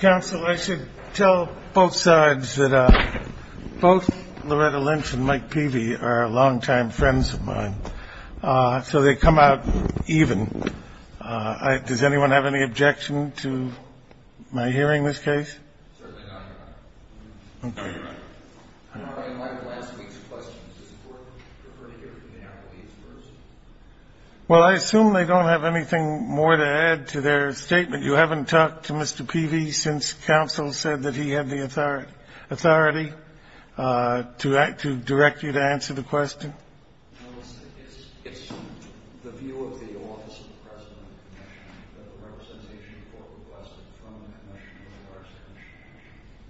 Council, I should tell both sides that both Loretta Lynch and Mike Peavy are long-time friends of mine, so they come out even. Does anyone have any objection to my hearing this case? Certainly not, Your Honor. Okay. I'm not going to mind the last week's questions. It's important for her to hear from the Applebee's first. Well, I assume they don't have anything more to add to their statement. You haven't talked to Mr. Peavy since counsel said that he had the authority to direct you to answer the question. It's the view of the Office of the President of the Commission that the representation for requests is from the Commission.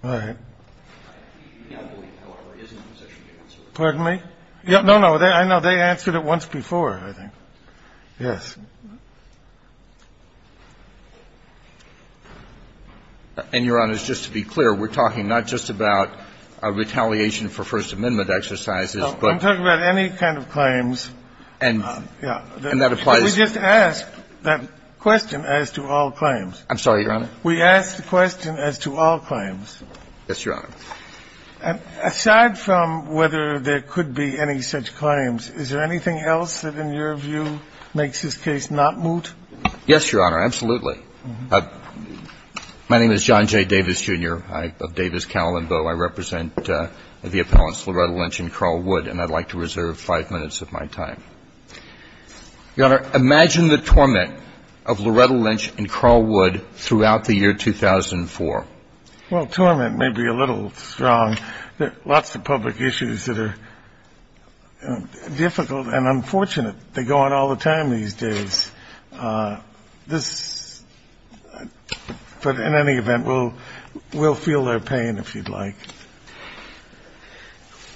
All right. The Applebee, however, isn't in a position to answer. Pardon me? No, no. I know they answered it once before, I think. Yes. And, Your Honor, just to be clear, we're talking not just about a retaliation for First Amendment exercises, but any kind of claims. And that applies. We just asked that question as to all claims. I'm sorry, Your Honor. We asked the question as to all claims. Yes, Your Honor. And aside from whether there could be any such claims, is there anything else that, in your view, makes this case not moot? Yes, Your Honor, absolutely. My name is John J. Davis, Jr. I, of Davis, Cowell & Bowe. I represent the appellants Loretta Lynch and Carl Wood, and I'd like to reserve five minutes of my time. Your Honor, imagine the torment of Loretta Lynch and Carl Wood throughout the year 2004. Well, torment may be a little strong. There are lots of public issues that are difficult and unfortunate. They go on all the time these days. This, but in any event, we'll feel their pain if you'd like.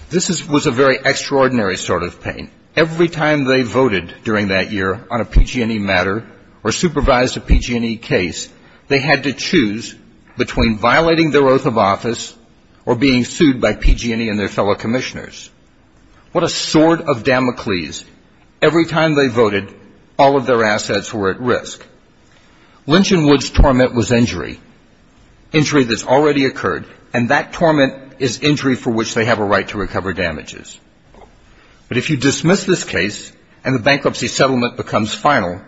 This was a very extraordinary sort of pain. Every time they voted during that year on a PG&E matter or supervised a PG&E case, they had to choose between violating their oath of office or being sued by PG&E and their fellow commissioners. What a sword of Damocles. Every time they voted, all of their assets were at risk. Lynch and Wood's torment was injury, injury that's already occurred, and that torment is injury for which they have a right to recover damages. But if you dismiss this case and the bankruptcy settlement becomes final,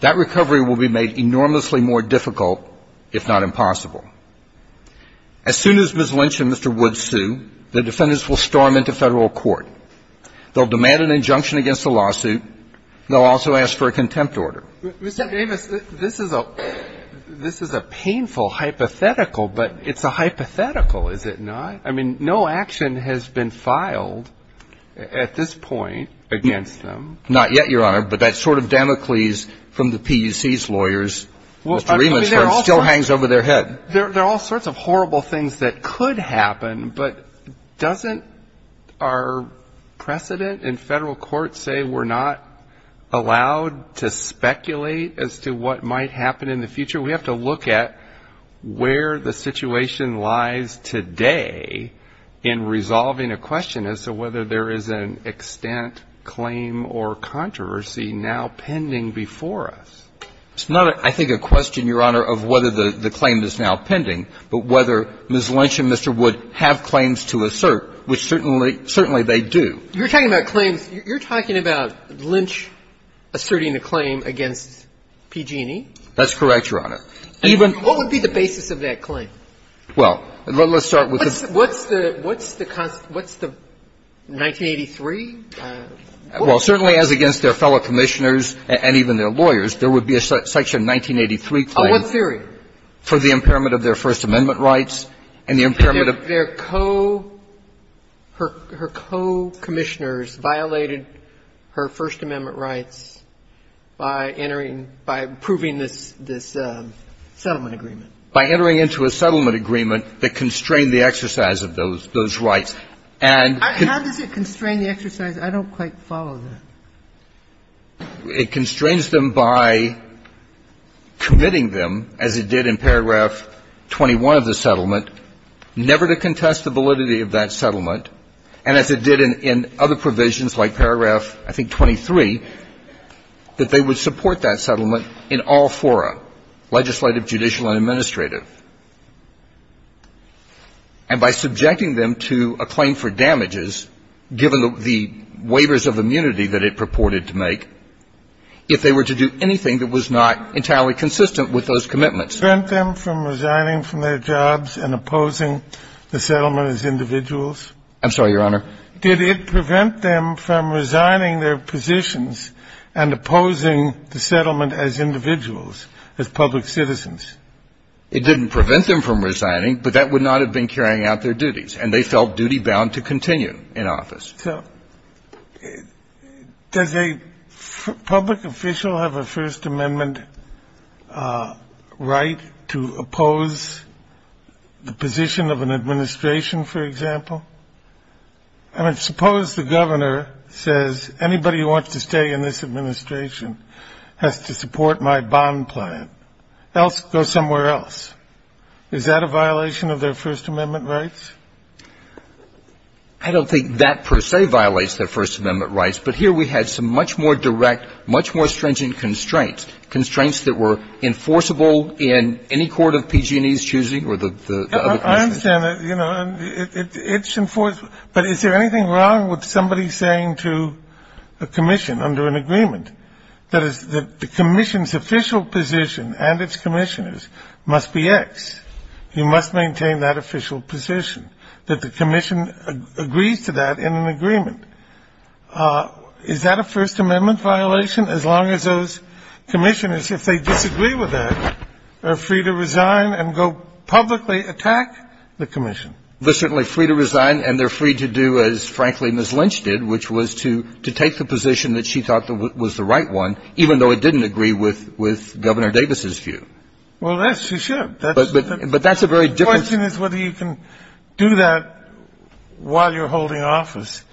that recovery will be made enormously more difficult, if not impossible. As soon as Ms. Lynch and Mr. Wood sue, the defendants will storm into Federal court. They'll demand an injunction against the lawsuit. They'll also ask for a contempt order. Mr. Davis, this is a painful hypothetical, but it's a hypothetical, is it not? I mean, no action has been filed at this point against them. Not yet, Your Honor. But that sword of Damocles from the PUC's lawyers, Mr. Rieman's firm, still hangs over their head. There are all sorts of horrible things that could happen, but doesn't our precedent in Federal court say we're not allowed to speculate as to what might happen in the future? We have to look at where the situation lies today in resolving a question as to whether there is an extent, claim, or controversy now pending before us. It's not, I think, a question, Your Honor, of whether the claim is now pending, but whether Ms. Lynch and Mr. Wood have claims to assert, which certainly they do. You're talking about claims. You're talking about Lynch asserting a claim against PG&E? That's correct, Your Honor. What would be the basis of that claim? Well, let's start with this. What's the 1983? Well, certainly, as against their fellow commissioners and even their lawyers, there would be a Section 1983 claim. On what theory? For the impairment of their First Amendment rights and the impairment of their co- Her co-commissioners violated her First Amendment rights by entering, by approving this, this settlement agreement. By entering into a settlement agreement that constrained the exercise of those rights. How does it constrain the exercise? I don't quite follow that. It constrains them by committing them, as it did in paragraph 21 of the settlement, never to contest the validity of that settlement, and as it did in other provisions like paragraph, I think, 23, that they would support that settlement in all fora, legislative, judicial, and administrative. And by subjecting them to a claim for damages, given the waivers of immunity that it purported to make, if they were to do anything that was not entirely consistent with those commitments. Did it prevent them from resigning from their jobs and opposing the settlement as individuals? I'm sorry, Your Honor. Did it prevent them from resigning their positions and opposing the settlement as individuals, as public citizens? It didn't prevent them from resigning, but that would not have been carrying out their duties, and they felt duty-bound to continue in office. So does a public official have a First Amendment right to oppose the position of an administration, for example? I mean, suppose the governor says, anybody who wants to stay in this administration has to support my bond plan, else go somewhere else. Is that a violation of their First Amendment rights? I don't think that per se violates their First Amendment rights, but here we had some much more direct, much more stringent constraints, constraints that were enforceable in any court of PG&E's choosing or the other commission. I understand that, you know, and it's enforced, but is there anything wrong with somebody saying to a commission under an agreement that the commission's official position and its commissioners must be X? You must maintain that official position. That the commission agrees to that in an agreement. Is that a First Amendment violation? As long as those commissioners, if they disagree with that, are free to resign and go publicly attack the commission. They're certainly free to resign, and they're free to do as, frankly, Ms. Lynch did, which was to take the position that she thought was the right one, even though it didn't agree with Governor Davis's view. Well, yes, she should. But that's a very different question. The question is whether you can do that while you're holding office.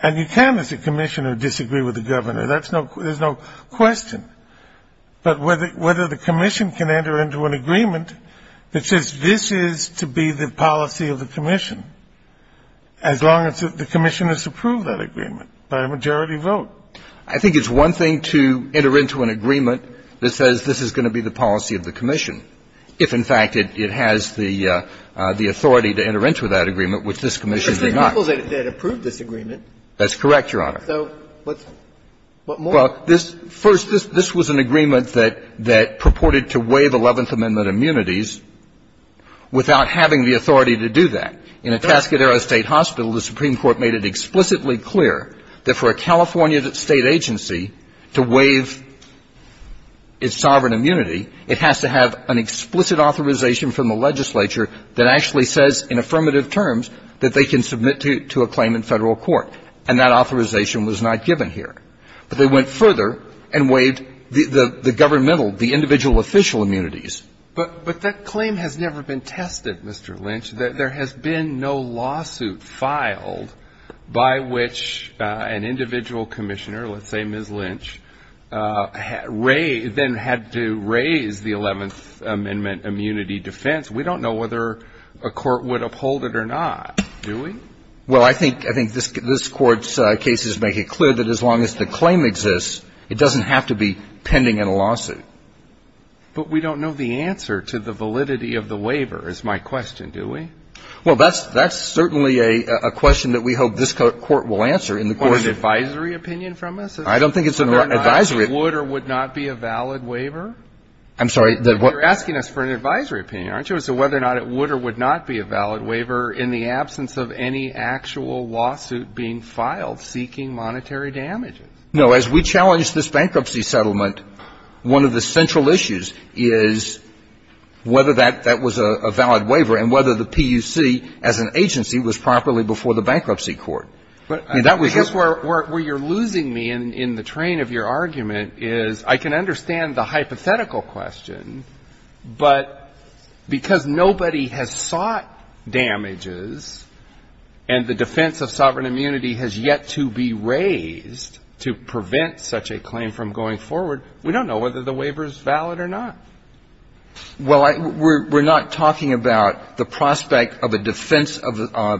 And you can, as a commissioner, disagree with the governor. There's no question. But whether the commission can enter into an agreement that says this is to be the policy of the commission, as long as the commission has approved that agreement by a majority vote. I think it's one thing to enter into an agreement that says this is going to be the policy of the commission, if, in fact, it has the authority to enter into that agreement, which this commission did not. But there are people that approved this agreement. That's correct, Your Honor. So what more? Well, this was an agreement that purported to waive Eleventh Amendment immunities without having the authority to do that. In Atascadero State Hospital, the Supreme Court made it explicitly clear that for an individual official immunities, there has to have an explicit authorization from the legislature that actually says in affirmative terms that they can submit to a claim in Federal court. And that authorization was not given here. But they went further and waived the governmental, the individual official immunities. But that claim has never been tested, Mr. Lynch. There has been no lawsuit filed by which an individual commissioner, let's say Ms. Lynch, then had to raise the Eleventh Amendment immunity defense. We don't know whether a court would uphold it or not, do we? Well, I think this Court's cases make it clear that as long as the claim exists, it doesn't have to be pending in a lawsuit. But we don't know the answer to the validity of the waiver, is my question, do we? Well, that's certainly a question that we hope this Court will answer in the course of time. Or an advisory opinion from us? I don't think it's an advisory. Would or would not be a valid waiver? I'm sorry. You're asking us for an advisory opinion, aren't you? So whether or not it would or would not be a valid waiver in the absence of any actual lawsuit being filed seeking monetary damages. No. As we challenge this bankruptcy settlement, one of the central issues is whether that was a valid waiver and whether the PUC as an agency was properly before the Bankruptcy Court. And that was just where you're losing me in the train of your argument is I can understand the hypothetical question, but because nobody has sought damages and the defense of sovereign immunity has yet to be raised to prevent such a claim from going forward, we don't know whether the waiver is valid or not. Well, we're not talking about the prospect of a defense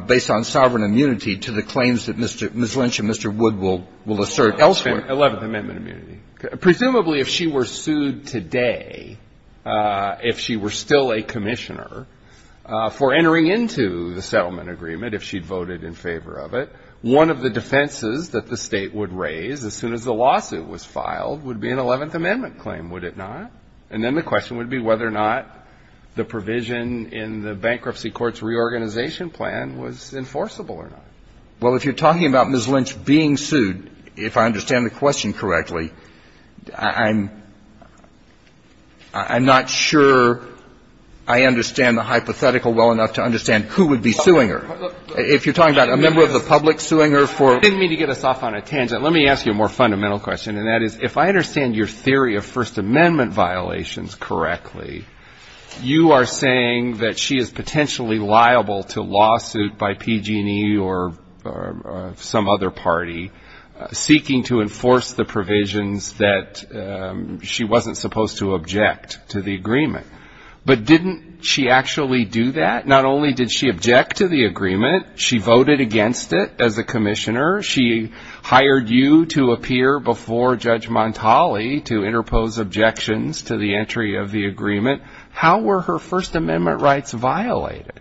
based on sovereign immunity to the claims that Ms. Lynch and Mr. Wood will assert elsewhere. Eleventh Amendment immunity. Presumably if she were sued today, if she were still a commissioner, for entering into the settlement agreement, if she voted in favor of it, one of the defenses that the State would raise as soon as the lawsuit was filed would be an Eleventh Amendment claim, would it not? And then the question would be whether or not the provision in the Bankruptcy Court's reorganization plan was enforceable or not. Well, if you're talking about Ms. Lynch being sued, if I understand the question correctly, I'm not sure I understand the hypothetical well enough to understand who would be suing her. If you're talking about a member of the public suing her for ---- I didn't mean to get us off on a tangent. Let me ask you a more fundamental question, and that is, if I understand your theory of First Amendment violations correctly, you are saying that she is potentially liable to lawsuit by PG&E or some other party seeking to enforce the provisions that she wasn't supposed to object to the agreement. But didn't she actually do that? Not only did she object to the agreement, she voted against it as a commissioner. She hired you to appear before Judge Montali to interpose objections to the entry of the agreement. How were her First Amendment rights violated?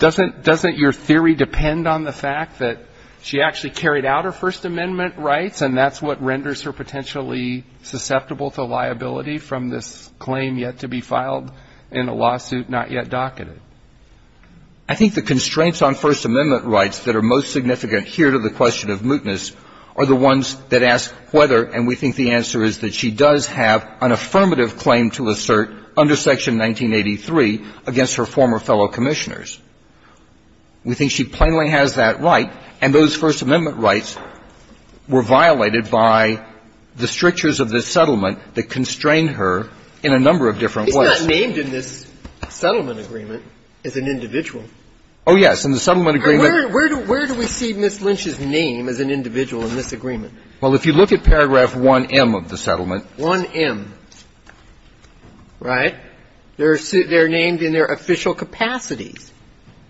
Doesn't your theory depend on the fact that she actually carried out her First Amendment rights, and that's what renders her potentially susceptible to liability from this claim yet to be filed in a lawsuit not yet docketed? I think the constraints on First Amendment rights that are most significant here to the question of mootness are the ones that ask whether, and we think the answer is that she does have an affirmative claim to assert under Section 1983 against her former fellow commissioners. We think she plainly has that right. And those First Amendment rights were violated by the strictures of this settlement that constrained her in a number of different ways. She's not named in this settlement agreement as an individual. Oh, yes. In the settlement agreement. Where do we see Ms. Lynch's name as an individual in this agreement? Well, if you look at paragraph 1M of the settlement. 1M, right? They're named in their official capacities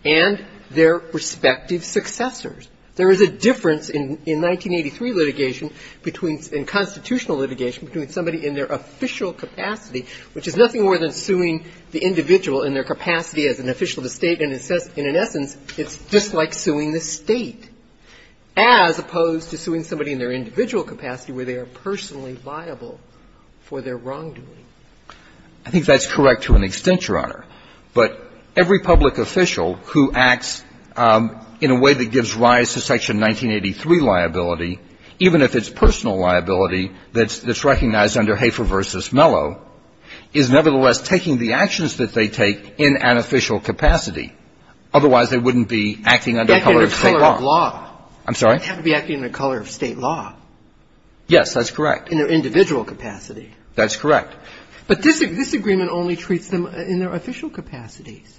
and their respective successors. There is a difference in 1983 litigation between the constitutional litigation between somebody in their official capacity, which is nothing more than suing the individual in their capacity as an official of the State, and in essence, it's just like suing the State, as opposed to suing somebody in their individual capacity where they are personally liable for their wrongdoing. I think that's correct to an extent, Your Honor. But every public official who acts in a way that gives rise to Section 1983 liability, even if it's personal liability that's recognized under Hafer v. Mello, is nevertheless taking the actions that they take in an official capacity. Otherwise, they wouldn't be acting under the color of State law. Acting under the color of law. I'm sorry? They have to be acting under the color of State law. Yes, that's correct. In their individual capacity. That's correct. But this agreement only treats them in their official capacities.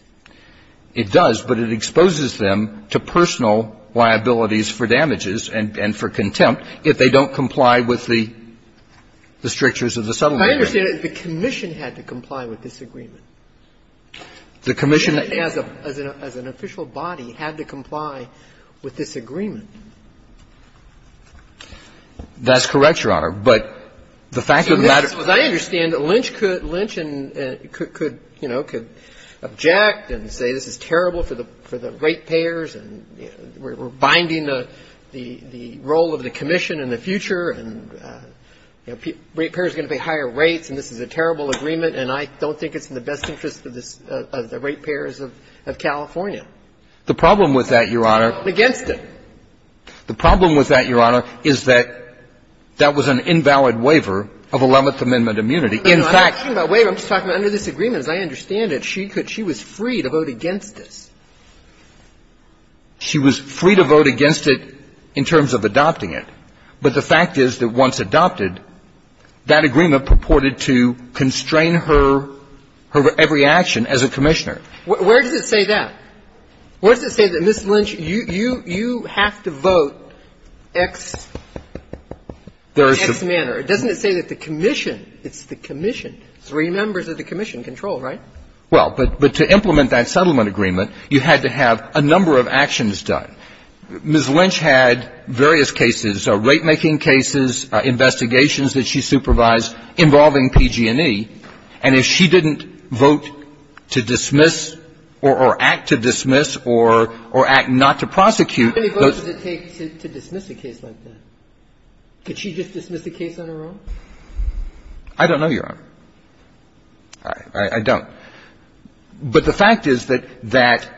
It does, but it exposes them to personal liabilities for damages and for contempt if they don't comply with the strictures of the settlement agreement. My understanding is the commission had to comply with this agreement. The commission, as an official body, had to comply with this agreement. That's correct, Your Honor. But the fact of the matter ---- As I understand it, Lynch could object and say this is terrible for the rate payers and we're binding the role of the commission in the future and rate payers are going to pay higher rates and this is a terrible agreement and I don't think it's in the best interest of the rate payers of California. The problem with that, Your Honor ---- Against it. The problem with that, Your Honor, is that that was an invalid waiver of Eleventh Amendment immunity. In fact ---- I'm not talking about waiver. I'm just talking about under this agreement, as I understand it, she was free to vote against this. She was free to vote against it in terms of adopting it. But the fact is that once adopted, that agreement purported to constrain her every action as a commissioner. Where does it say that? Where does it say that, Ms. Lynch, you have to vote X manner? Doesn't it say that the commission, it's the commission, three members of the commission control, right? Well, but to implement that settlement agreement, you had to have a number of actions done. Ms. Lynch had various cases, rate-making cases, investigations that she supervised involving PG&E. And if she didn't vote to dismiss or act to dismiss or act not to prosecute those ---- How many votes does it take to dismiss a case like that? Could she just dismiss a case on her own? I don't know, Your Honor. I don't. But the fact is that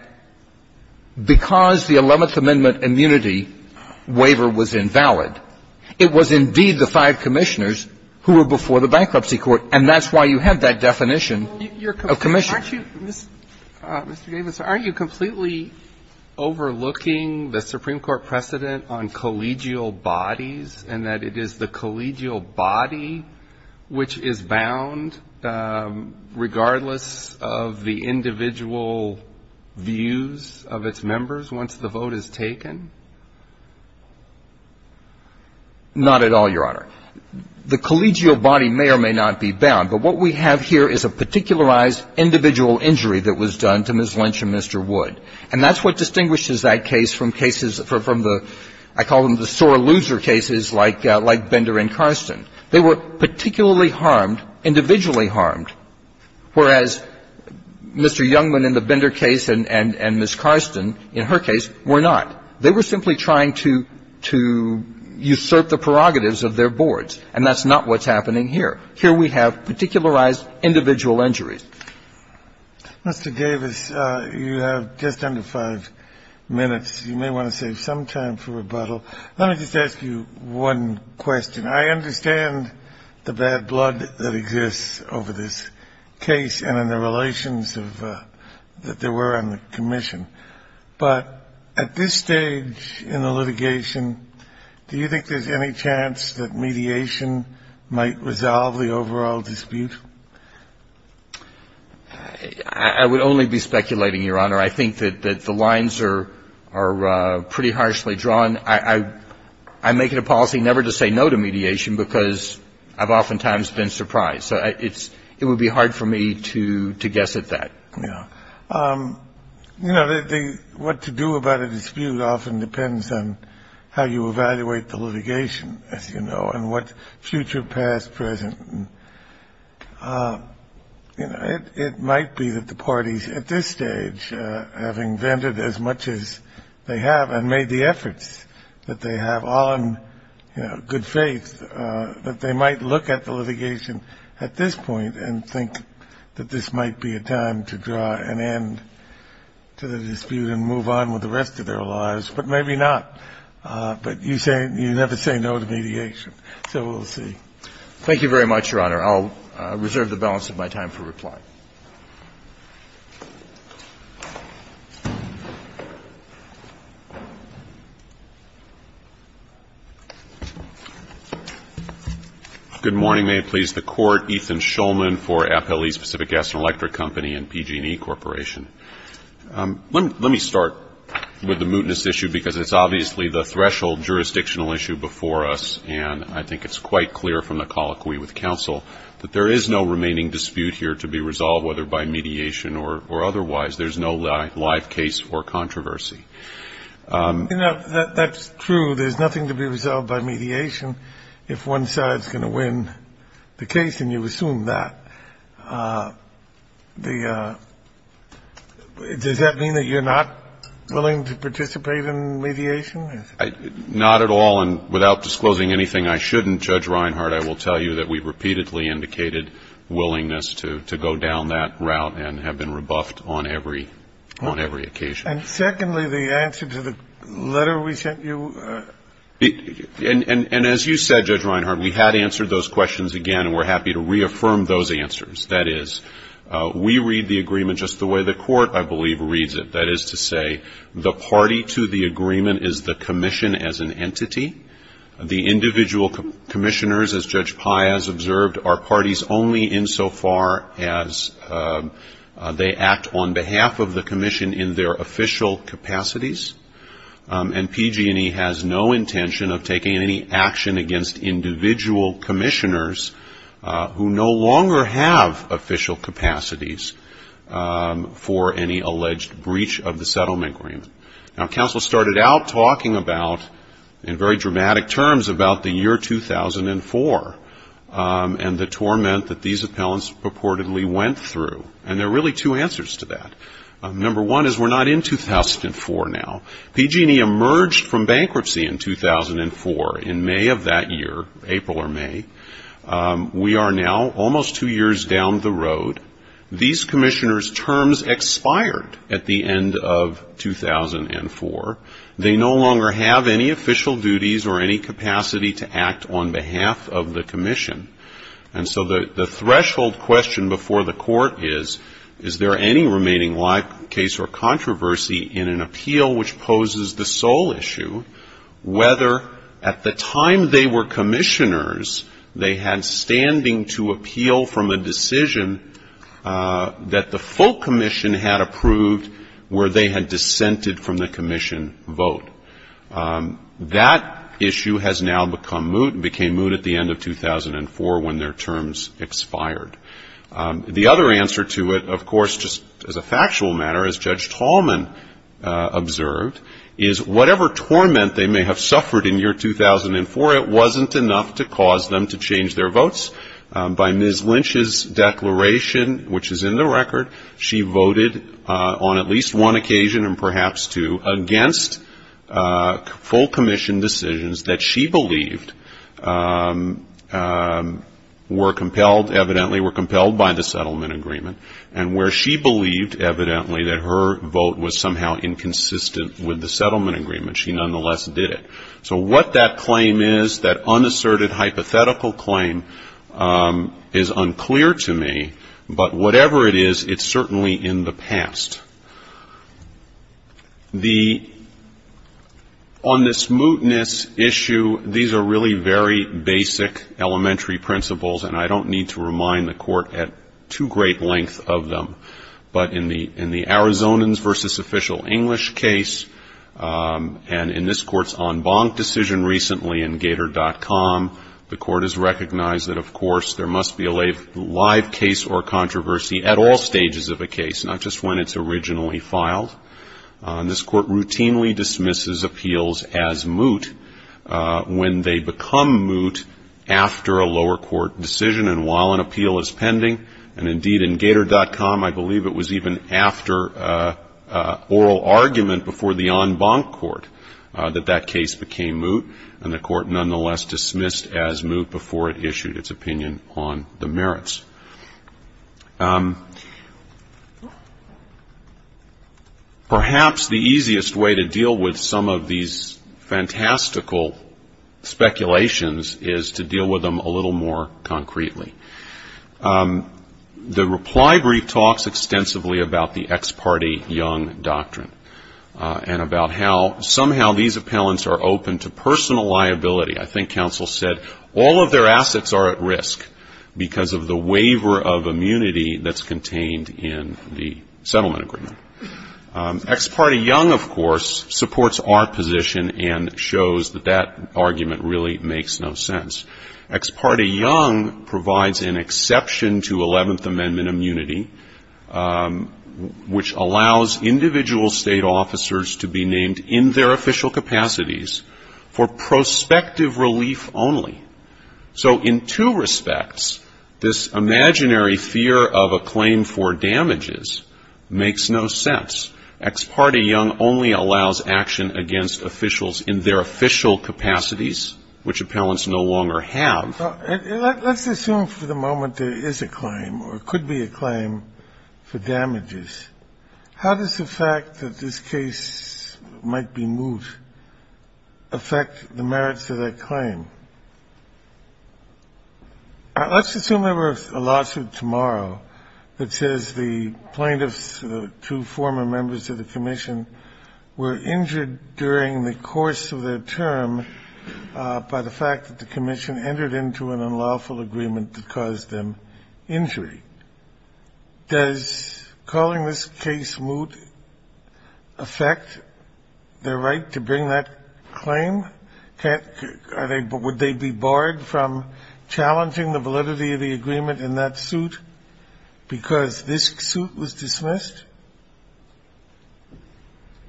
because the Eleventh Amendment immunity waiver was invalid, it was indeed the five commissioners who were before the Bankruptcy Court, and that's why you have that definition of commissioner. Aren't you, Mr. Davis, aren't you completely overlooking the Supreme Court precedent on collegial bodies and that it is the collegial body which is bound regardless of the individual views of its members once the vote is taken? Not at all, Your Honor. The collegial body may or may not be bound. But what we have here is a particularized individual injury that was done to Ms. Lynch and Mr. Wood. And that's what distinguishes that case from cases from the ---- I call them the sore loser cases like Bender and Karsten. They were particularly harmed, individually harmed, whereas Mr. Youngman in the Bender case and Ms. Karsten in her case were not. They were simply trying to usurp the prerogatives of their boards. And that's not what's happening here. Here we have particularized individual injuries. Mr. Davis, you have just under five minutes. You may want to save some time for rebuttal. Let me just ask you one question. I understand the bad blood that exists over this case and in the relations of the ---- that there were on the commission. But at this stage in the litigation, do you think there's any chance that mediation might resolve the overall dispute? I would only be speculating, Your Honor. I think that the lines are pretty harshly drawn. I make it a policy never to say no to mediation because I've oftentimes been surprised. So it would be hard for me to guess at that. Yeah. You know, what to do about a dispute often depends on how you evaluate the litigation, as you know, and what future, past, present. You know, it might be that the parties at this stage, having vented as much as they have and made the efforts that they have all in good faith, that they might look at the litigation at this point and think that this might be a time to draw an end to the dispute and move on with the rest of their lives. But maybe not. But you never say no to mediation. So we'll see. Thank you very much, Your Honor. I'll reserve the balance of my time for reply. Good morning. May it please the Court. Ethan Shulman for Appellee Specific Gas and Electric Company and PG&E Corporation. Let me start with the mootness issue because it's obviously the threshold jurisdictional issue before us, and I think it's quite clear from the colloquy with counsel that there is no remaining dispute here to be resolved, whether by mediation or otherwise. There's no live case for controversy. That's true. There's nothing to be resolved by mediation if one side is going to win the case, and you assume that. Does that mean that you're not willing to participate in mediation? Not at all. And without disclosing anything I shouldn't, Judge Reinhart, I will tell you that we repeatedly indicated willingness to go down that route and have been rebuffed on every occasion. And secondly, the answer to the letter we sent you? And as you said, Judge Reinhart, we had answered those questions again, and we're happy to reaffirm those answers. That is, we read the agreement just the way the Court, I believe, reads it. That is to say, the party to the agreement is the commission as an entity. The individual commissioners, as Judge Pai has observed, are parties only insofar as they act on behalf of the commission in their official capacities, and PG&E has no intention of taking any action against individual commissioners who no longer have official capacities for any alleged breach of the settlement agreement. Now, counsel started out talking about, in very dramatic terms, about the year 2004 and the torment that these appellants purportedly went through, and there are really two answers to that. Number one is we're not in 2004 now. PG&E emerged from bankruptcy in 2004, in May of that year, April or May. We are now almost two years down the road. These commissioners' terms expired at the end of 2004. They no longer have any official duties or any capacity to act on behalf of the commission. And so the threshold question before the Court is, is there any remaining live case or controversy in an appeal which poses the sole issue, whether at the time they were commissioners, they had standing to appeal from a decision that the full commission had approved where they had dissented from the commission vote. That issue has now become moot, and became moot at the end of 2004 when their terms expired. The other answer to it, of course, just as a factual matter, as Judge Tallman observed, is whatever torment they may have suffered in year 2004, it wasn't enough to cause them to change their votes. By Ms. Lynch's declaration, which is in the record, she voted on at least one occasion and perhaps two against full commission decisions that she believed were compelled, evidently were compelled by the settlement agreement, and where she believed, evidently, that her vote was somehow inconsistent with the settlement agreement. She nonetheless did it. So what that claim is, that unasserted hypothetical claim, is unclear to me, but whatever it is, it's certainly in the past. On this mootness issue, these are really very basic elementary principles, and I don't need to remind the Court at too great length of them. But in the Arizonans v. Official English case, and in this Court's en banc decision recently in Gator.com, the Court has recognized that, of course, there must be a live case or controversy at all stages of a case, not just when it's originally filed. This Court routinely dismisses appeals as moot when they become moot after a lower court decision and while an appeal is pending, and indeed in Gator.com, I believe it was even after oral argument before the en banc court that that case became moot, and the Court nonetheless dismissed as moot before it issued its opinion on the merits. Perhaps the easiest way to deal with some of these fantastical speculations is to deal with them a little more concretely. The reply brief talks extensively about the ex parte young doctrine and about how somehow these appellants are open to personal liability. I think counsel said all of their assets are at risk because of the waiver of immunity that's contained in the settlement agreement. Ex parte young, of course, supports our position and shows that that argument really makes no sense. Ex parte young provides an exception to 11th Amendment immunity, which allows individual state officers to be named in their official capacities for prospective relief only. So in two respects, this imaginary fear of a claim for damages makes no sense. Ex parte young only allows action against officials in their official capacities, which appellants no longer have. Let's assume for the moment there is a claim or could be a claim for damages. How does the fact that this case might be moot affect the merits of that claim? Let's assume there were a lawsuit tomorrow that says the plaintiffs, the two former members of the commission, were injured during the course of their term by the fact that the commission entered into an unlawful agreement that caused them injury. Does calling this case moot affect their right to bring that claim? Would they be barred from challenging the validity of the agreement in that suit because this suit was dismissed?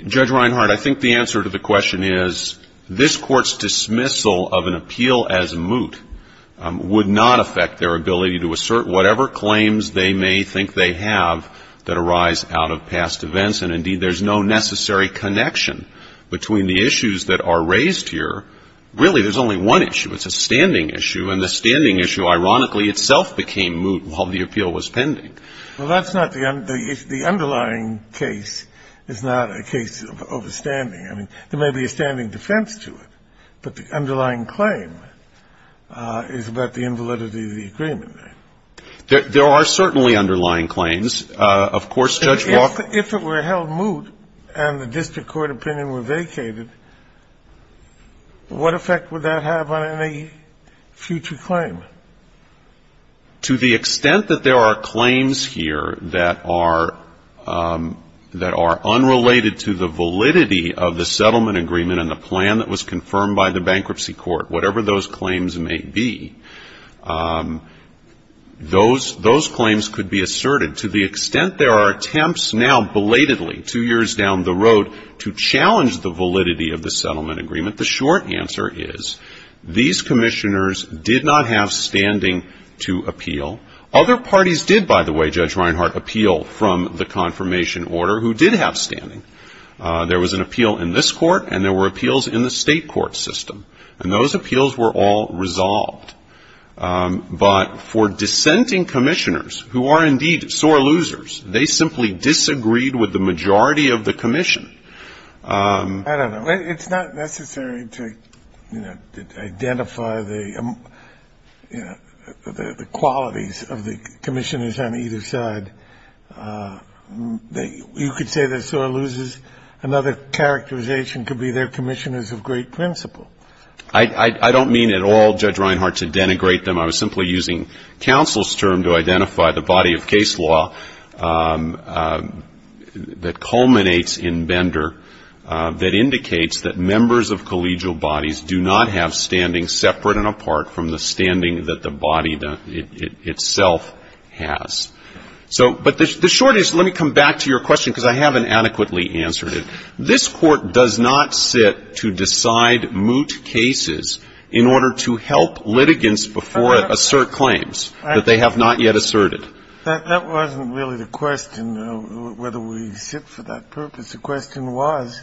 Judge Reinhardt, I think the answer to the question is this Court's dismissal of an appeal as moot would not affect their ability to assert whatever claims they may think they have that arise out of past events. And indeed, there's no necessary connection between the issues that are raised here. Really, there's only one issue. It's a standing issue. And the standing issue, ironically, itself became moot while the appeal was pending. Well, that's not the underlying case. It's not a case of a standing. I mean, there may be a standing defense to it, but the underlying claim is about the invalidity of the agreement. There are certainly underlying claims. Of course, Judge Walker ---- If it were held moot and the district court opinion were vacated, what effect would that have on any future claim? To the extent that there are claims here that are unrelated to the validity of the settlement agreement and the plan that was confirmed by the bankruptcy court, whatever those claims may be, those claims could be asserted. To the extent there are attempts now, belatedly, two years down the road, to challenge the validity of the settlement agreement, the short answer is these commissioners did not have standing to appeal. Other parties did, by the way, Judge Reinhart, appeal from the confirmation order who did have standing. There was an appeal in this court, and there were appeals in the state court system. And those appeals were all resolved. But for dissenting commissioners who are indeed sore losers, they simply disagreed with the majority of the commission. I don't know. It's not necessary to, you know, identify the qualities of the commissioners on either side. You could say that sore losers, another characterization could be they're commissioners of great principle. I don't mean at all, Judge Reinhart, to denigrate them. I was simply using counsel's term to identify the body of case law that culminates in Bender that indicates that members of collegial bodies do not have standing separate and apart from the standing that the body itself has. So, but the short is, let me come back to your question, because I haven't adequately answered it. This Court does not sit to decide moot cases in order to help litigants before assert claims that they have not yet asserted. That wasn't really the question, whether we sit for that purpose. The question was,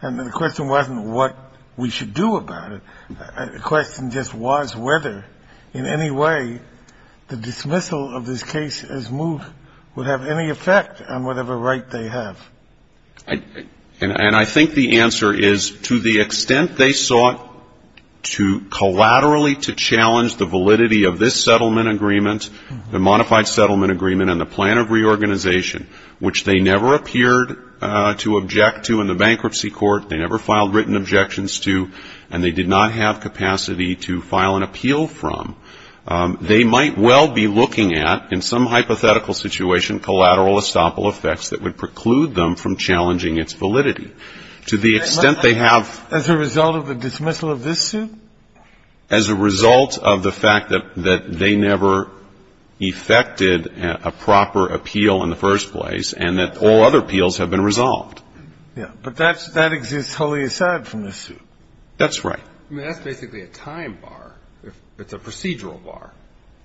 and the question wasn't what we should do about it. The question just was whether in any way the dismissal of this case as moot would have any effect on whatever right they have. And I think the answer is to the extent they sought to collaterally to challenge the validity of this settlement agreement, the modified settlement agreement and the plan of reorganization, which they never appeared to object to in the bankruptcy court, they never filed written objections to, and they did not have capacity to file an appeal from, they might well be looking at, in some hypothetical situation, collateral estoppel effects that would preclude them from challenging its validity to the extent they have. As a result of the dismissal of this suit? As a result of the fact that they never effected a proper appeal in the first place and that all other appeals have been resolved. Yeah. But that exists wholly aside from this suit. That's right. I mean, that's basically a time bar. It's a procedural bar.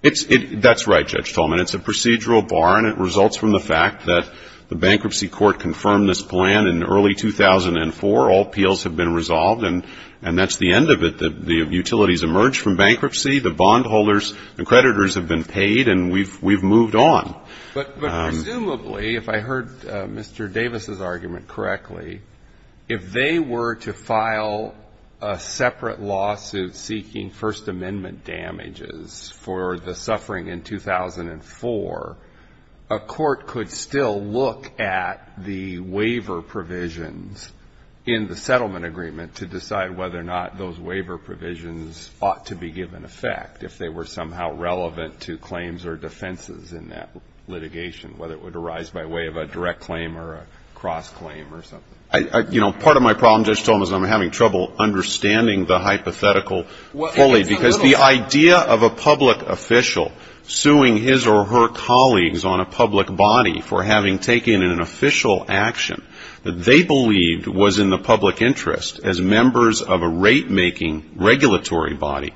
That's right, Judge Tolman. It's a procedural bar, and it results from the fact that the bankruptcy court confirmed this plan in early 2004. All appeals have been resolved, and that's the end of it. The utilities emerged from bankruptcy. The bondholders and creditors have been paid, and we've moved on. But presumably, if I heard Mr. Davis's argument correctly, if they were to file a separate lawsuit seeking First Amendment damages for the suffering in 2004, a court could still look at the waiver provisions in the settlement agreement to decide whether or not those waiver provisions ought to be given effect, if they were somehow relevant to claims or defenses in that litigation, whether it would arise by way of a direct claim or a cross-claim or something. You know, part of my problem, Judge Tolman, is I'm having trouble understanding the hypothetical fully, because the idea of a public official suing his or her colleagues on a public body for having taken an official action that they believed was in the public interest as members of a rate-making regulatory body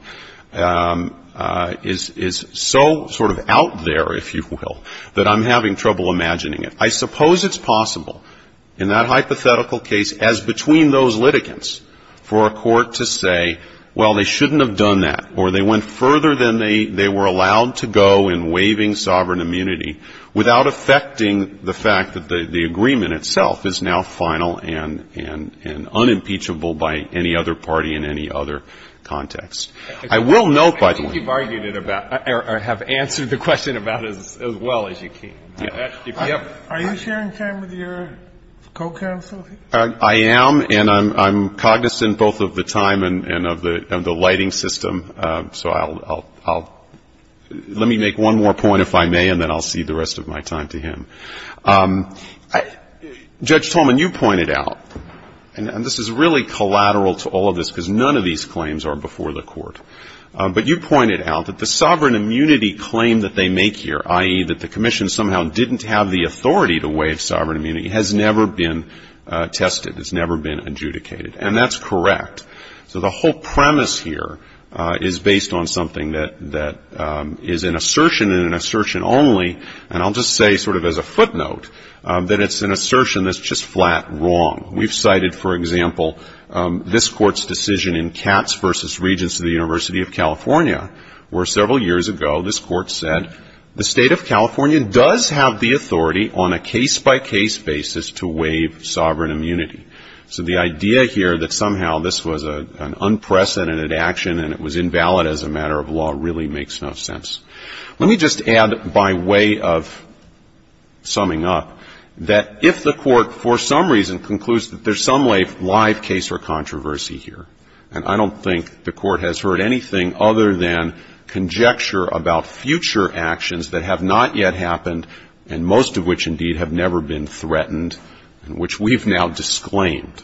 is so sort of out there, if you will, that I'm having trouble imagining it. I suppose it's possible in that hypothetical case, as between those litigants, for a court to say, well, they shouldn't have done that, or they went further than they were allowed to go in waiving sovereign immunity, without affecting the fact that the agreement itself is now final and unimpeachable by any other party in any other context. I will note, by the way ---- Are you sharing time with your co-counsel? I am, and I'm cognizant both of the time and of the lighting system. So I'll ---- let me make one more point, if I may, and then I'll cede the rest of my time to him. Judge Tolman, you pointed out, and this is really collateral to all of this, because none of these claims are before the Court, but you pointed out that the sovereign immunity claim that they make here, i.e., that the Commission somehow didn't have the authority to waive sovereign immunity, has never been tested. It's never been adjudicated. And that's correct. So the whole premise here is based on something that is an assertion and an assertion only. And I'll just say, sort of as a footnote, that it's an assertion that's just flat wrong. We've cited, for example, this Court's decision in Katz v. Regents of the University of California, where several years ago this Court said the State of California does have the authority on a case-by-case basis to waive sovereign immunity. So the idea here that somehow this was an unprecedented action and it was invalid as a matter of law really makes no sense. Let me just add, by way of summing up, that if the Court for some reason concludes that there's some live case or controversy here, and I don't think the Court has heard anything other than conjecture about future actions that have not yet happened, and most of which, indeed, have never been threatened, which we've now disclaimed.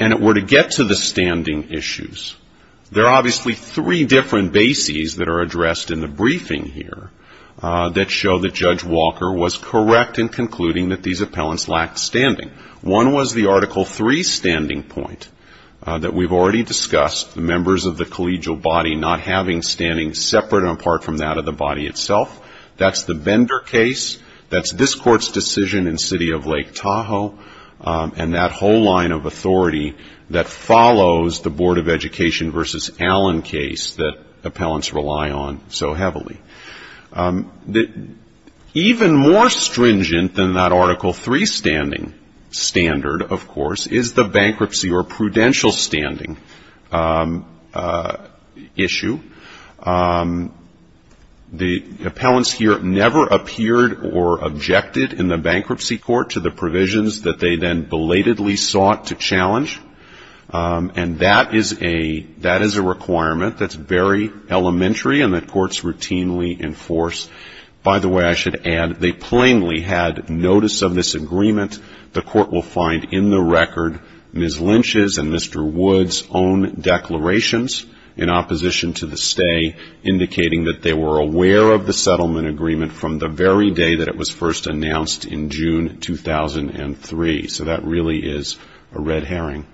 And if we're to get to the standing issues, there are obviously three different bases that are addressed in the briefing here that show that Judge Walker was correct in concluding that these appellants lacked standing. One was the Article III standing point that we've already discussed, the members of the collegial body not having standing separate and apart from that of the body itself. That's the Bender case. That's this Court's decision in City of Lake Tahoe. And that whole line of authority that follows the Board of Education v. Allen case that appellants rely on so heavily. Even more stringent than that Article III standing standard, of course, is the bankruptcy or prudential standing issue. The appellants here never appeared or objected in the bankruptcy court to the provisions that they then belatedly sought to challenge. And that is a requirement that's very elementary and that courts routinely enforce. By the way, I should add, they plainly had notice of this agreement. The Court will find in the record Ms. Lynch's and Mr. Wood's own declarations in opposition to the stay, indicating that they were aware of the settlement agreement from the very day that it was first announced in June 2003. So that really is a red herring.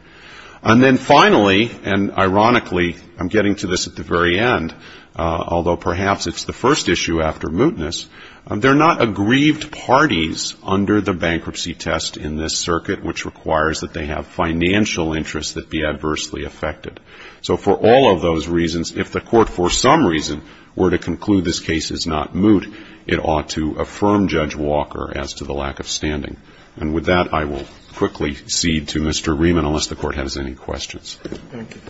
And then finally, and ironically, I'm getting to this at the very end, although perhaps it's the first issue after mootness, they're not aggrieved parties under the bankruptcy test in this circuit, which requires that they have financial interests that be adversely affected. So for all of those reasons, if the Court for some reason were to conclude this case is not moot, it ought to affirm Judge Walker as to the lack of standing. And with that, I will quickly cede to Mr. Rieman, unless the Court has any questions. Thank you.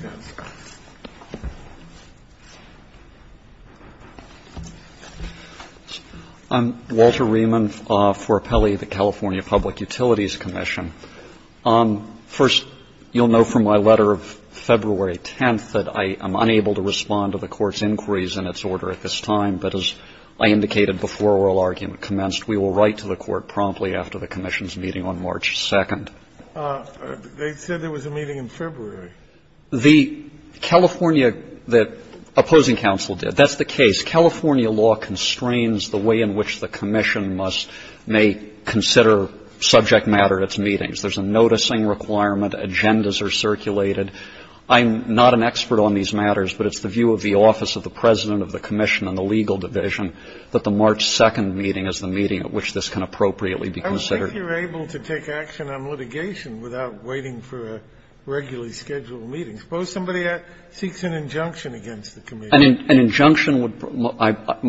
I'm Walter Rieman for Apelli, the California Public Utilities Commission. First, you'll know from my letter of February 10th that I am unable to respond to the Court's inquiries in its order at this time, but as I indicated before oral argument commenced, we will write to the Court promptly after the Commission's meeting on March 2nd. They said there was a meeting in February. The California, the opposing counsel did. That's the case. California law constrains the way in which the Commission must, may consider subject matter at its meetings. There's a noticing requirement. Agendas are circulated. I'm not an expert on these matters, but it's the view of the office of the President of the Commission and the legal division that the March 2nd meeting is the meeting at which this can appropriately be considered. I don't think you're able to take action on litigation without waiting for a regularly scheduled meeting. Suppose somebody seeks an injunction against the Commission. An injunction would be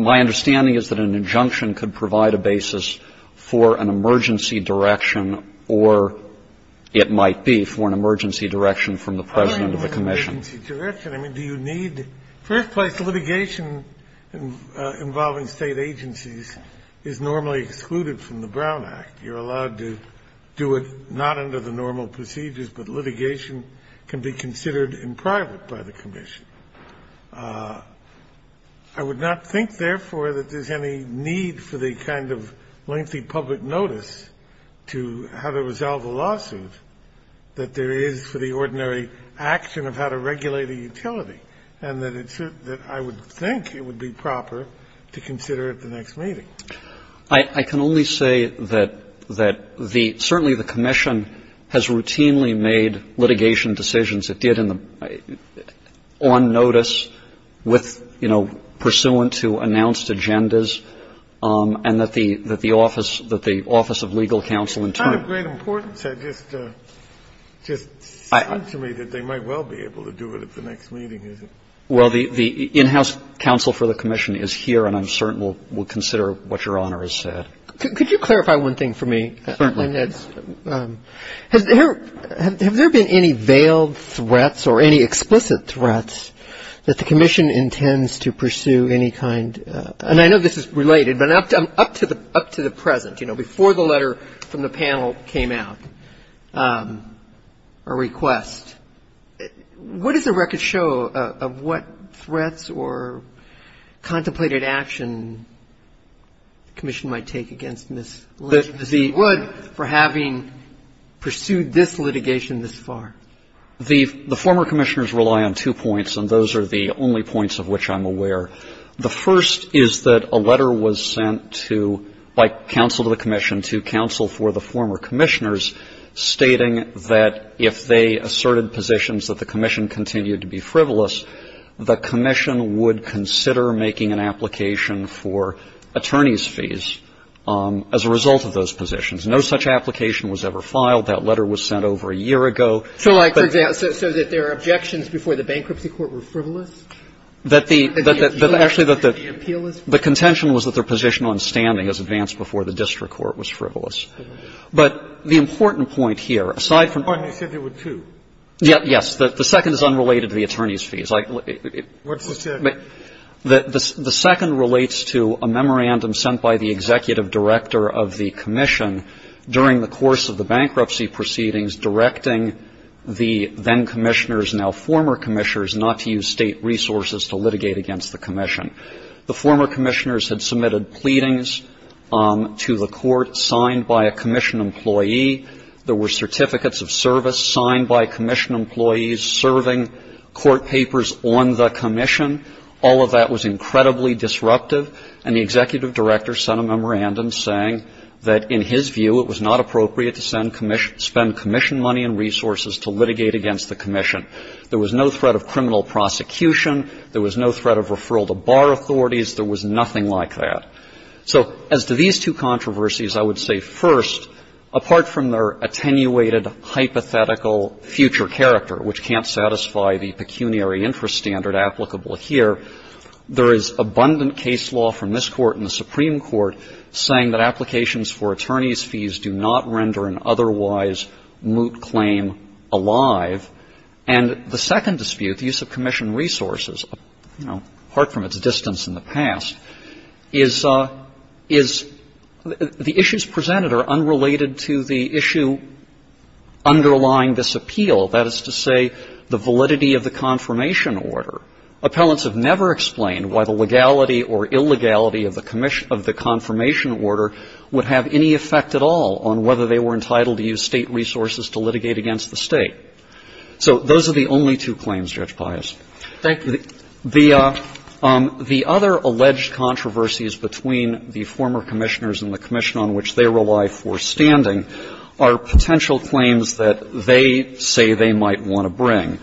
my understanding is that an injunction could provide a basis for an emergency direction or it might be for an emergency direction from the President of the Commission. I mean, do you need, first place litigation involving state agencies is normally excluded from the Brown Act. You're allowed to do it not under the normal procedures, but litigation can be considered in private by the Commission. I would not think, therefore, that there's any need for the kind of lengthy public notice to how to resolve a lawsuit that there is for the ordinary action of how to regulate a utility and that I would think it would be proper to consider at the next meeting. I can only say that certainly the Commission has routinely made litigation decisions it did on notice with, you know, pursuant to announced agendas and that the office of legal counsel in turn. It's not of great importance. It just sounds to me that they might well be able to do it at the next meeting, is it? Well, the in-house counsel for the Commission is here and I'm certain will consider what Your Honor has said. Could you clarify one thing for me? Certainly. Has there been any veiled threats or any explicit threats that the Commission intends to pursue any kind of, and I know this is related, but up to the present, you know, before the letter from the panel came out, a request. What does the record show of what threats or contemplated action the Commission might take against Ms. Wood for having pursued this litigation this far? The former Commissioners rely on two points and those are the only points of which I'm aware. The first is that a letter was sent to, by counsel to the Commission, to counsel for the former Commissioners stating that if they asserted positions that the Commission continued to be frivolous, the Commission would consider making an application for attorney's fees as a result of those positions. No such application was ever filed. That letter was sent over a year ago. So like, for example, so that their objections before the bankruptcy court were frivolous? That the actually, that the contention was that their position on standing was advanced before the district court was frivolous. But the important point here, aside from. You said there were two. Yes. The second is unrelated to the attorney's fees. What's the second? The second relates to a memorandum sent by the executive director of the Commission during the course of the bankruptcy proceedings directing the then Commissioners, now former Commissioners, not to use state resources to litigate against the Commission. The former Commissioners had submitted pleadings to the court signed by a Commission employee. There were certificates of service signed by Commission employees serving court papers on the Commission. All of that was incredibly disruptive. And the executive director sent a memorandum saying that, in his view, it was not appropriate to spend Commission money and resources to litigate against the Commission. There was no threat of criminal prosecution. There was no threat of referral to bar authorities. There was nothing like that. So as to these two controversies, I would say, first, apart from their attenuated, hypothetical future character, which can't satisfy the pecuniary interest standard applicable here, there is abundant case law from this Court and the Supreme Court saying that applications for attorney's fees do not render an otherwise moot claim alive. And the second dispute, the use of Commission resources, you know, apart from its distance in the past, is the issues presented are unrelated to the issue underlying this appeal. to the issue underlying the appeal. That is to say, the validity of the confirmation order. Appellants have never explained why the legality or illegality of the confirmation order would have any effect at all on whether they were entitled to use State resources to litigate against the State. So those are the only two claims, Judge Pius. Thank you. The other alleged controversies between the former Commissioners and the Commission on which they rely for standing are potential claims that they say they might want to bring.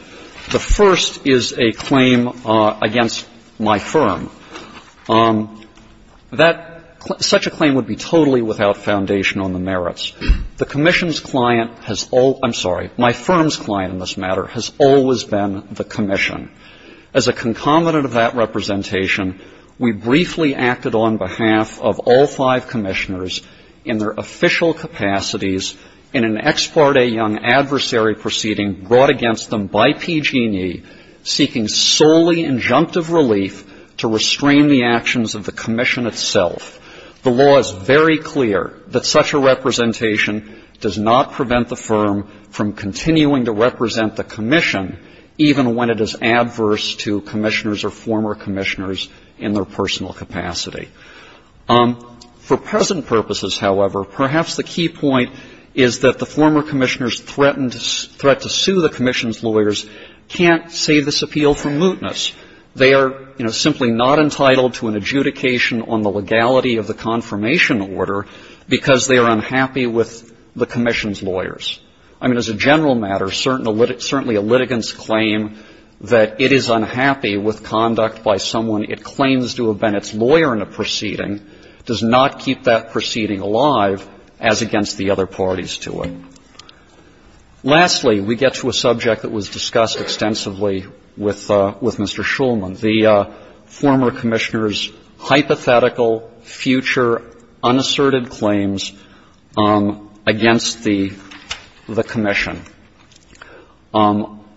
The first is a claim against my firm. That – such a claim would be totally without foundation on the merits. The Commission's client has all – I'm sorry, my firm's client in this matter has always been the Commission. As a concomitant of that representation, we briefly acted on behalf of all five Commissioners in their official capacities in an Ex Parte Young adversary proceeding brought against them by PG&E, seeking solely injunctive relief to restrain the actions of the Commission itself. The law is very clear that such a representation does not prevent the firm from continuing to represent the Commission even when it is adverse to Commissioners or former Commissioners in their personal capacity. For present purposes, however, perhaps the key point is that the former Commissioners threatened – threat to sue the Commission's lawyers can't say this appeal for mootness. They are, you know, simply not entitled to an adjudication on the legality of the I mean, as a general matter, certainly a litigant's claim that it is unhappy with conduct by someone it claims to have been its lawyer in a proceeding does not keep that proceeding alive as against the other parties to it. Lastly, we get to a subject that was discussed extensively with Mr. Shulman, the former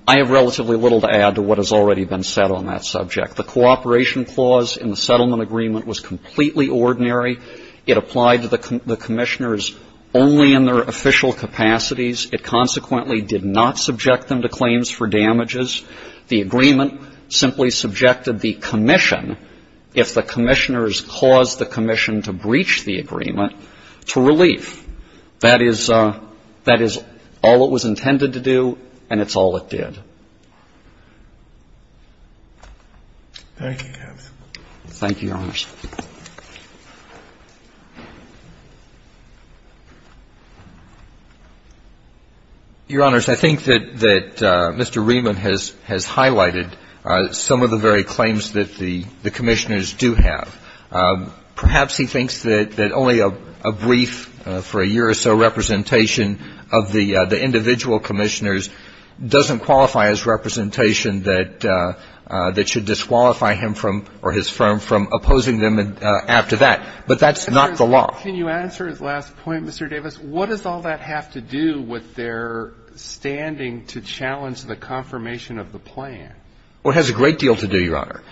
I have relatively little to add to what has already been said on that subject. The cooperation clause in the settlement agreement was completely ordinary. It applied to the Commissioners only in their official capacities. It consequently did not subject them to claims for damages. The agreement simply subjected the Commission, if the Commissioners caused the Commission to breach the agreement, to relief. That is all it was intended to do, and it's all it did. Thank you, Your Honors. Your Honors, I think that Mr. Riemann has highlighted some of the very claims that the Commissioners do have. Perhaps he thinks that only a brief, for a year or so, representation of the individual Commissioners doesn't qualify as representation that should disqualify him from, or his firm, from opposing them after that. But that's not the law. Can you answer his last point, Mr. Davis? What does all that have to do with their standing to challenge the confirmation of the plan? Well, it has a great deal to do, Your Honor.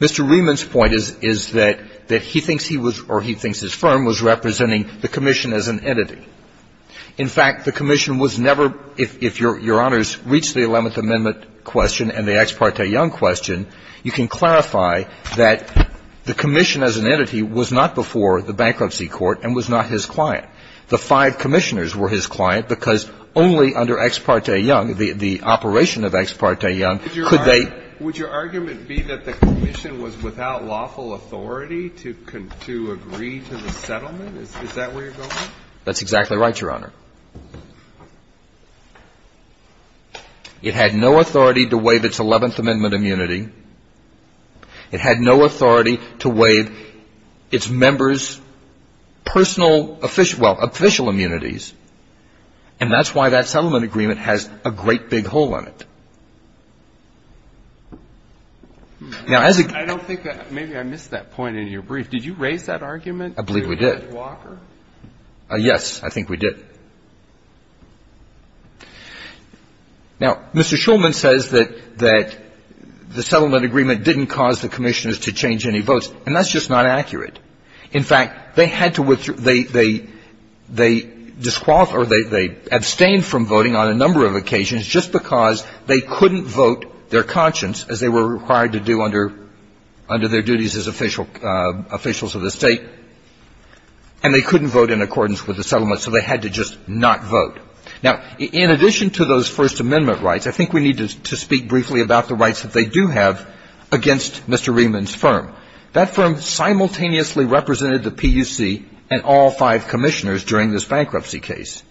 Mr. Riemann's point is that he thinks he was, or he thinks his firm, was representing the Commission as an entity. In fact, the Commission was never, if Your Honors reach the Eleventh Amendment question and the Ex parte Young question, you can clarify that the Commission as an entity was not before the bankruptcy court and was not his client. The five Commissioners were his client because only under Ex parte Young, the operation of Ex parte Young, could they. Would your argument be that the Commission was without lawful authority to agree to the settlement? Is that where you're going? That's exactly right, Your Honor. It had no authority to waive its Eleventh Amendment immunity. It had no authority to waive its members' personal, well, official immunities. And that's why that settlement agreement has a great big hole in it. Now, as a ---- I don't think that ---- maybe I missed that point in your brief. Did you raise that argument? I believe we did. Did you raise it with Walker? Yes, I think we did. Now, Mr. Shulman says that the settlement agreement didn't cause the Commissioners to change any votes, and that's just not accurate. In fact, they had to ---- they disqualify or they abstained from voting on a number of occasions just because they couldn't vote their conscience, as they were required to do under their duties as officials of the State, and they couldn't vote in accordance with the settlement, so they had to just not vote. Now, in addition to those First Amendment rights, I think we need to speak briefly about the rights that they do have against Mr. Riemann's firm. That firm simultaneously represented the PUC and all five Commissioners during this bankruptcy case.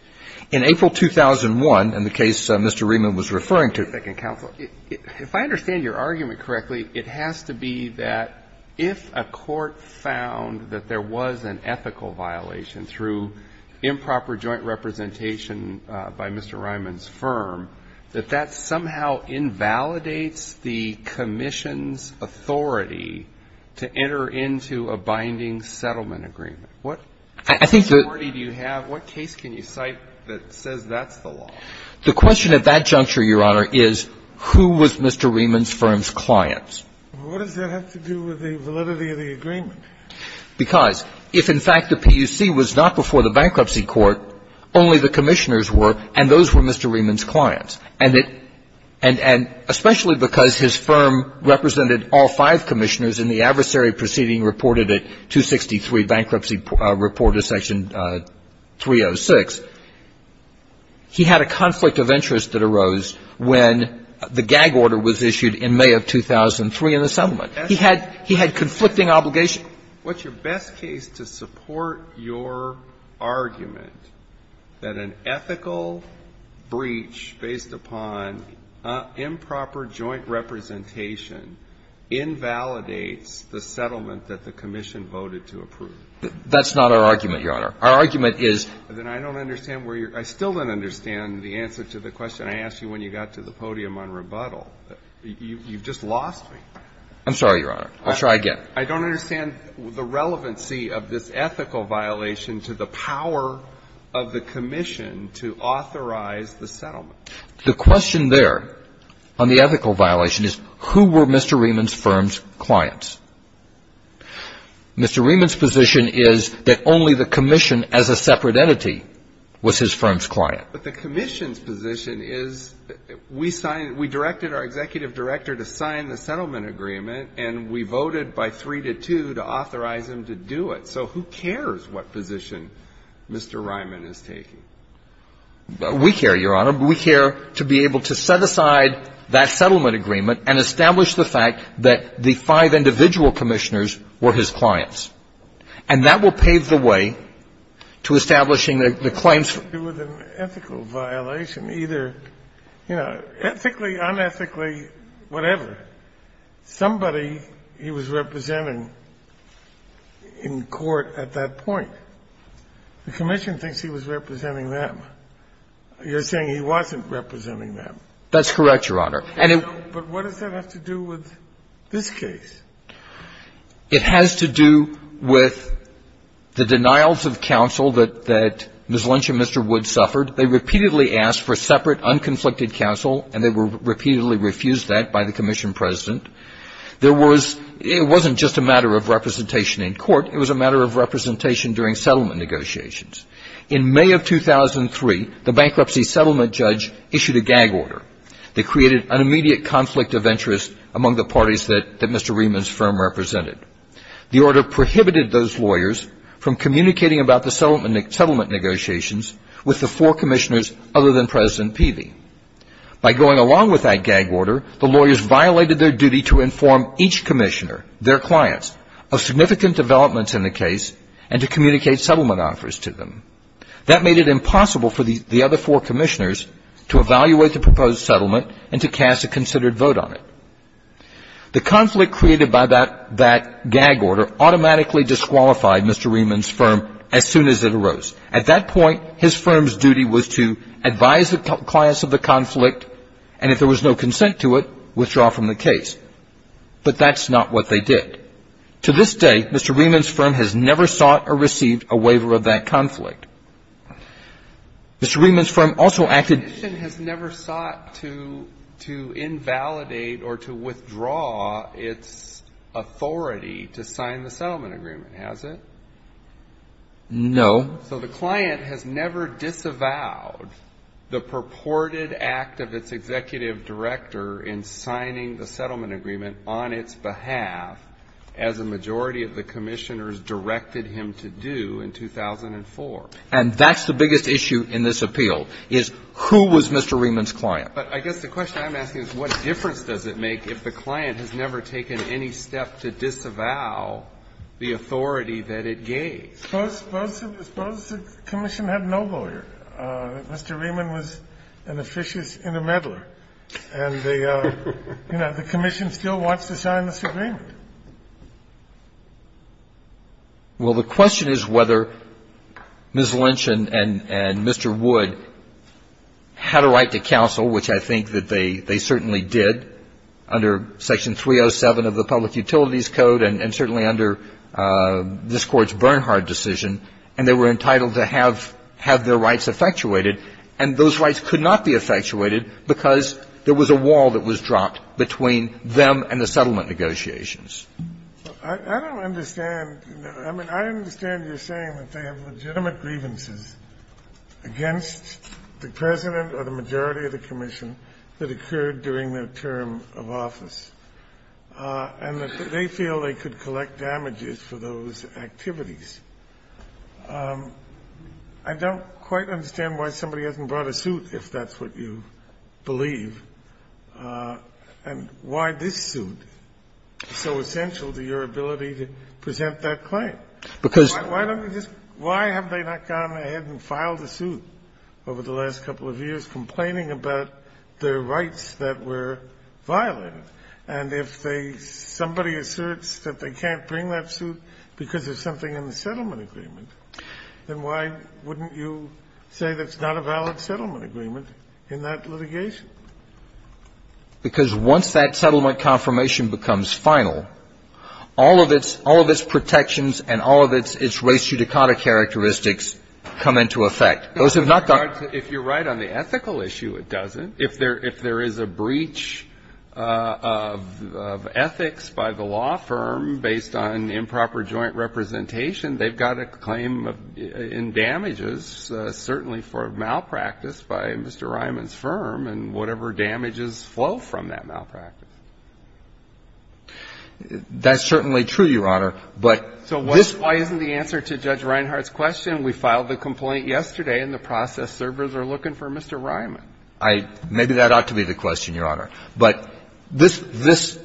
In April 2001, in the case Mr. Riemann was referring to ---- Second counsel. If I understand your argument correctly, it has to be that if a court found that there was an ethical violation through improper joint representation by Mr. Riemann's firm, that that somehow invalidates the Commission's authority to enter into a binding settlement agreement. What authority do you have? What case can you cite that says that's the law? The question at that juncture, Your Honor, is who was Mr. Riemann's firm's clients? What does that have to do with the validity of the agreement? Because if, in fact, the PUC was not before the bankruptcy court, only the Commissioners were, and those were Mr. Riemann's clients. And especially because his firm represented all five Commissioners in the adversary proceeding reported at 263 Bankruptcy Report of Section 306, he had a conflict of interest that arose when the gag order was issued in May of 2003 in the settlement. He had conflicting obligations. What's your best case to support your argument that an ethical breach based upon improper joint representation invalidates the settlement that the Commission voted to approve? That's not our argument, Your Honor. Our argument is that I don't understand where you're – I still don't understand the answer to the question I asked you when you got to the podium on rebuttal. You've just lost me. I'm sorry, Your Honor. I'll try again. I don't understand the relevancy of this ethical violation to the power of the Commission to authorize the settlement. The question there on the ethical violation is who were Mr. Riemann's firm's clients? Mr. Riemann's position is that only the Commission as a separate entity was his firm's client. But the Commission's position is we signed – we directed our executive director to sign the settlement agreement, and we voted by 3 to 2 to authorize him to do it. So who cares what position Mr. Riemann is taking? We care, Your Honor. We care to be able to set aside that settlement agreement and establish the fact that the five individual commissioners were his clients. And that will pave the way to establishing the claims. It wasn't an ethical violation either. You know, ethically, unethically, whatever. Somebody he was representing in court at that point. The Commission thinks he was representing them. You're saying he wasn't representing them. That's correct, Your Honor. But what does that have to do with this case? It has to do with the denials of counsel that Ms. Lynch and Mr. Wood suffered. They repeatedly asked for separate, unconflicted counsel, and they were repeatedly refused that by the Commission president. There was – it wasn't just a matter of representation in court. It was a matter of representation during settlement negotiations. In May of 2003, the bankruptcy settlement judge issued a gag order that created an immediate conflict of interest among the parties that Mr. Riemann's firm represented. The order prohibited those lawyers from communicating about the settlement negotiations with the four commissioners other than President Peavey. By going along with that gag order, the lawyers violated their duty to inform each commissioner, their clients, of significant developments in the case and to communicate settlement offers to them. That made it impossible for the other four commissioners to evaluate the proposed settlement and to cast a considered vote on it. The conflict created by that gag order automatically disqualified Mr. Riemann's firm as soon as it arose. At that point, his firm's duty was to advise the clients of the conflict, and if there was no consent to it, withdraw from the case. But that's not what they did. To this day, Mr. Riemann's firm has never sought or received a waiver of that conflict. Mr. Riemann's firm also acted – The commission has never sought to – to invalidate or to withdraw its authority to sign the settlement agreement, has it? No. So the client has never disavowed the purported act of its executive director in signing the settlement agreement on its behalf, as a majority of the commissioners directed him to do in 2004. And that's the biggest issue in this appeal, is who was Mr. Riemann's client? But I guess the question I'm asking is what difference does it make if the client has never taken any step to disavow the authority that it gave? Suppose the commission had no lawyer. Mr. Riemann was an officious intermeddler. And the commission still wants to sign this agreement. Well, the question is whether Ms. Lynch and Mr. Wood had a right to counsel, which I think that they certainly did, under Section 307 of the Public Utilities Code and certainly under this Court's Bernhard decision. And they were entitled to have their rights effectuated. And those rights could not be effectuated because there was a wall that was dropped between them and the settlement negotiations. I don't understand. I mean, I understand you're saying that they have legitimate grievances against the president or the majority of the commission that occurred during their term of office and that they feel they could collect damages for those activities. I don't quite understand why somebody hasn't brought a suit, if that's what you believe, and why this suit is so essential to your ability to present that claim. Why don't you just why have they not gone ahead and filed a suit over the last couple of years complaining about their rights that were violated? And if somebody asserts that they can't bring that suit because of something in the settlement agreement, then why wouldn't you say that's not a valid settlement agreement in that litigation? Because once that settlement confirmation becomes final, all of its protections and all of its res judicata characteristics come into effect. Those have not gone to the court. If you're right on the ethical issue, it doesn't. If there is a breach of ethics by the law firm based on improper joint representation, they've got a claim in damages, certainly for malpractice by Mr. Ryman's firm and whatever damages flow from that malpractice. That's certainly true, Your Honor. But this one. So why isn't the answer to Judge Reinhart's question? We filed the complaint yesterday, and the process servers are looking for Mr. Ryman. Maybe that ought to be the question, Your Honor. But this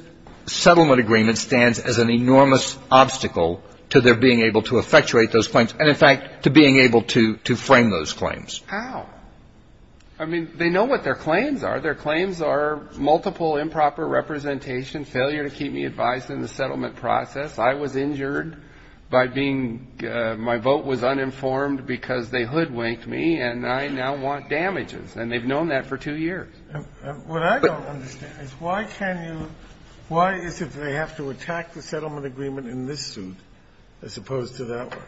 settlement agreement stands as an enormous obstacle to their being able to effectuate those claims and, in fact, to being able to frame those claims. How? I mean, they know what their claims are. Their claims are multiple improper representation, failure to keep me advised in the settlement process. I was injured by being my vote was uninformed because they hoodwinked me, and I now want damages. And they've known that for two years. What I don't understand is why can you why is it they have to attack the settlement agreement in this suit as opposed to that one?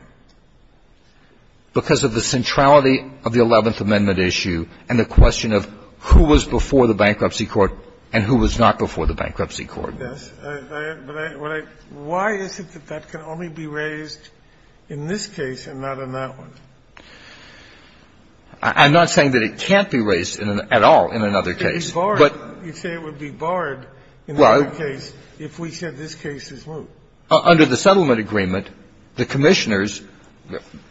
Because of the centrality of the Eleventh Amendment issue and the question of who was before the bankruptcy court and who was not before the bankruptcy court. I guess. But why is it that that can only be raised in this case and not in that one? I'm not saying that it can't be raised at all in another case. But it would be barred in that case if we said this case is moot. Under the settlement agreement, the Commissioners,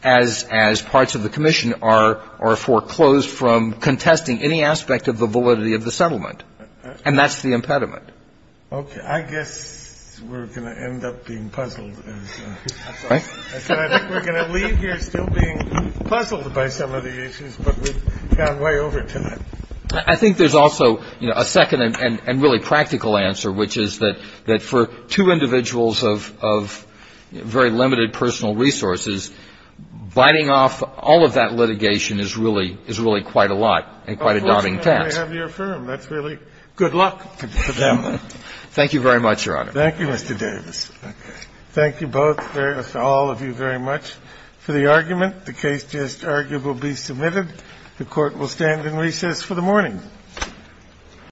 as parts of the Commission are, are foreclosed from contesting any aspect of the validity of the settlement. And that's the impediment. Okay. I guess we're going to end up being puzzled. Right. We're going to leave here still being puzzled by some of the issues. But we've gone way over to that. I think there's also, you know, a second and really practical answer, which is that for two individuals of very limited personal resources, biting off all of that litigation is really quite a lot and quite a daunting task. And I have to affirm, that's really good luck for them. Thank you very much, Your Honor. Thank you, Mr. Davis. Thank you both, all of you very much, for the argument. The case just argued will be submitted. The Court will stand in recess for the morning.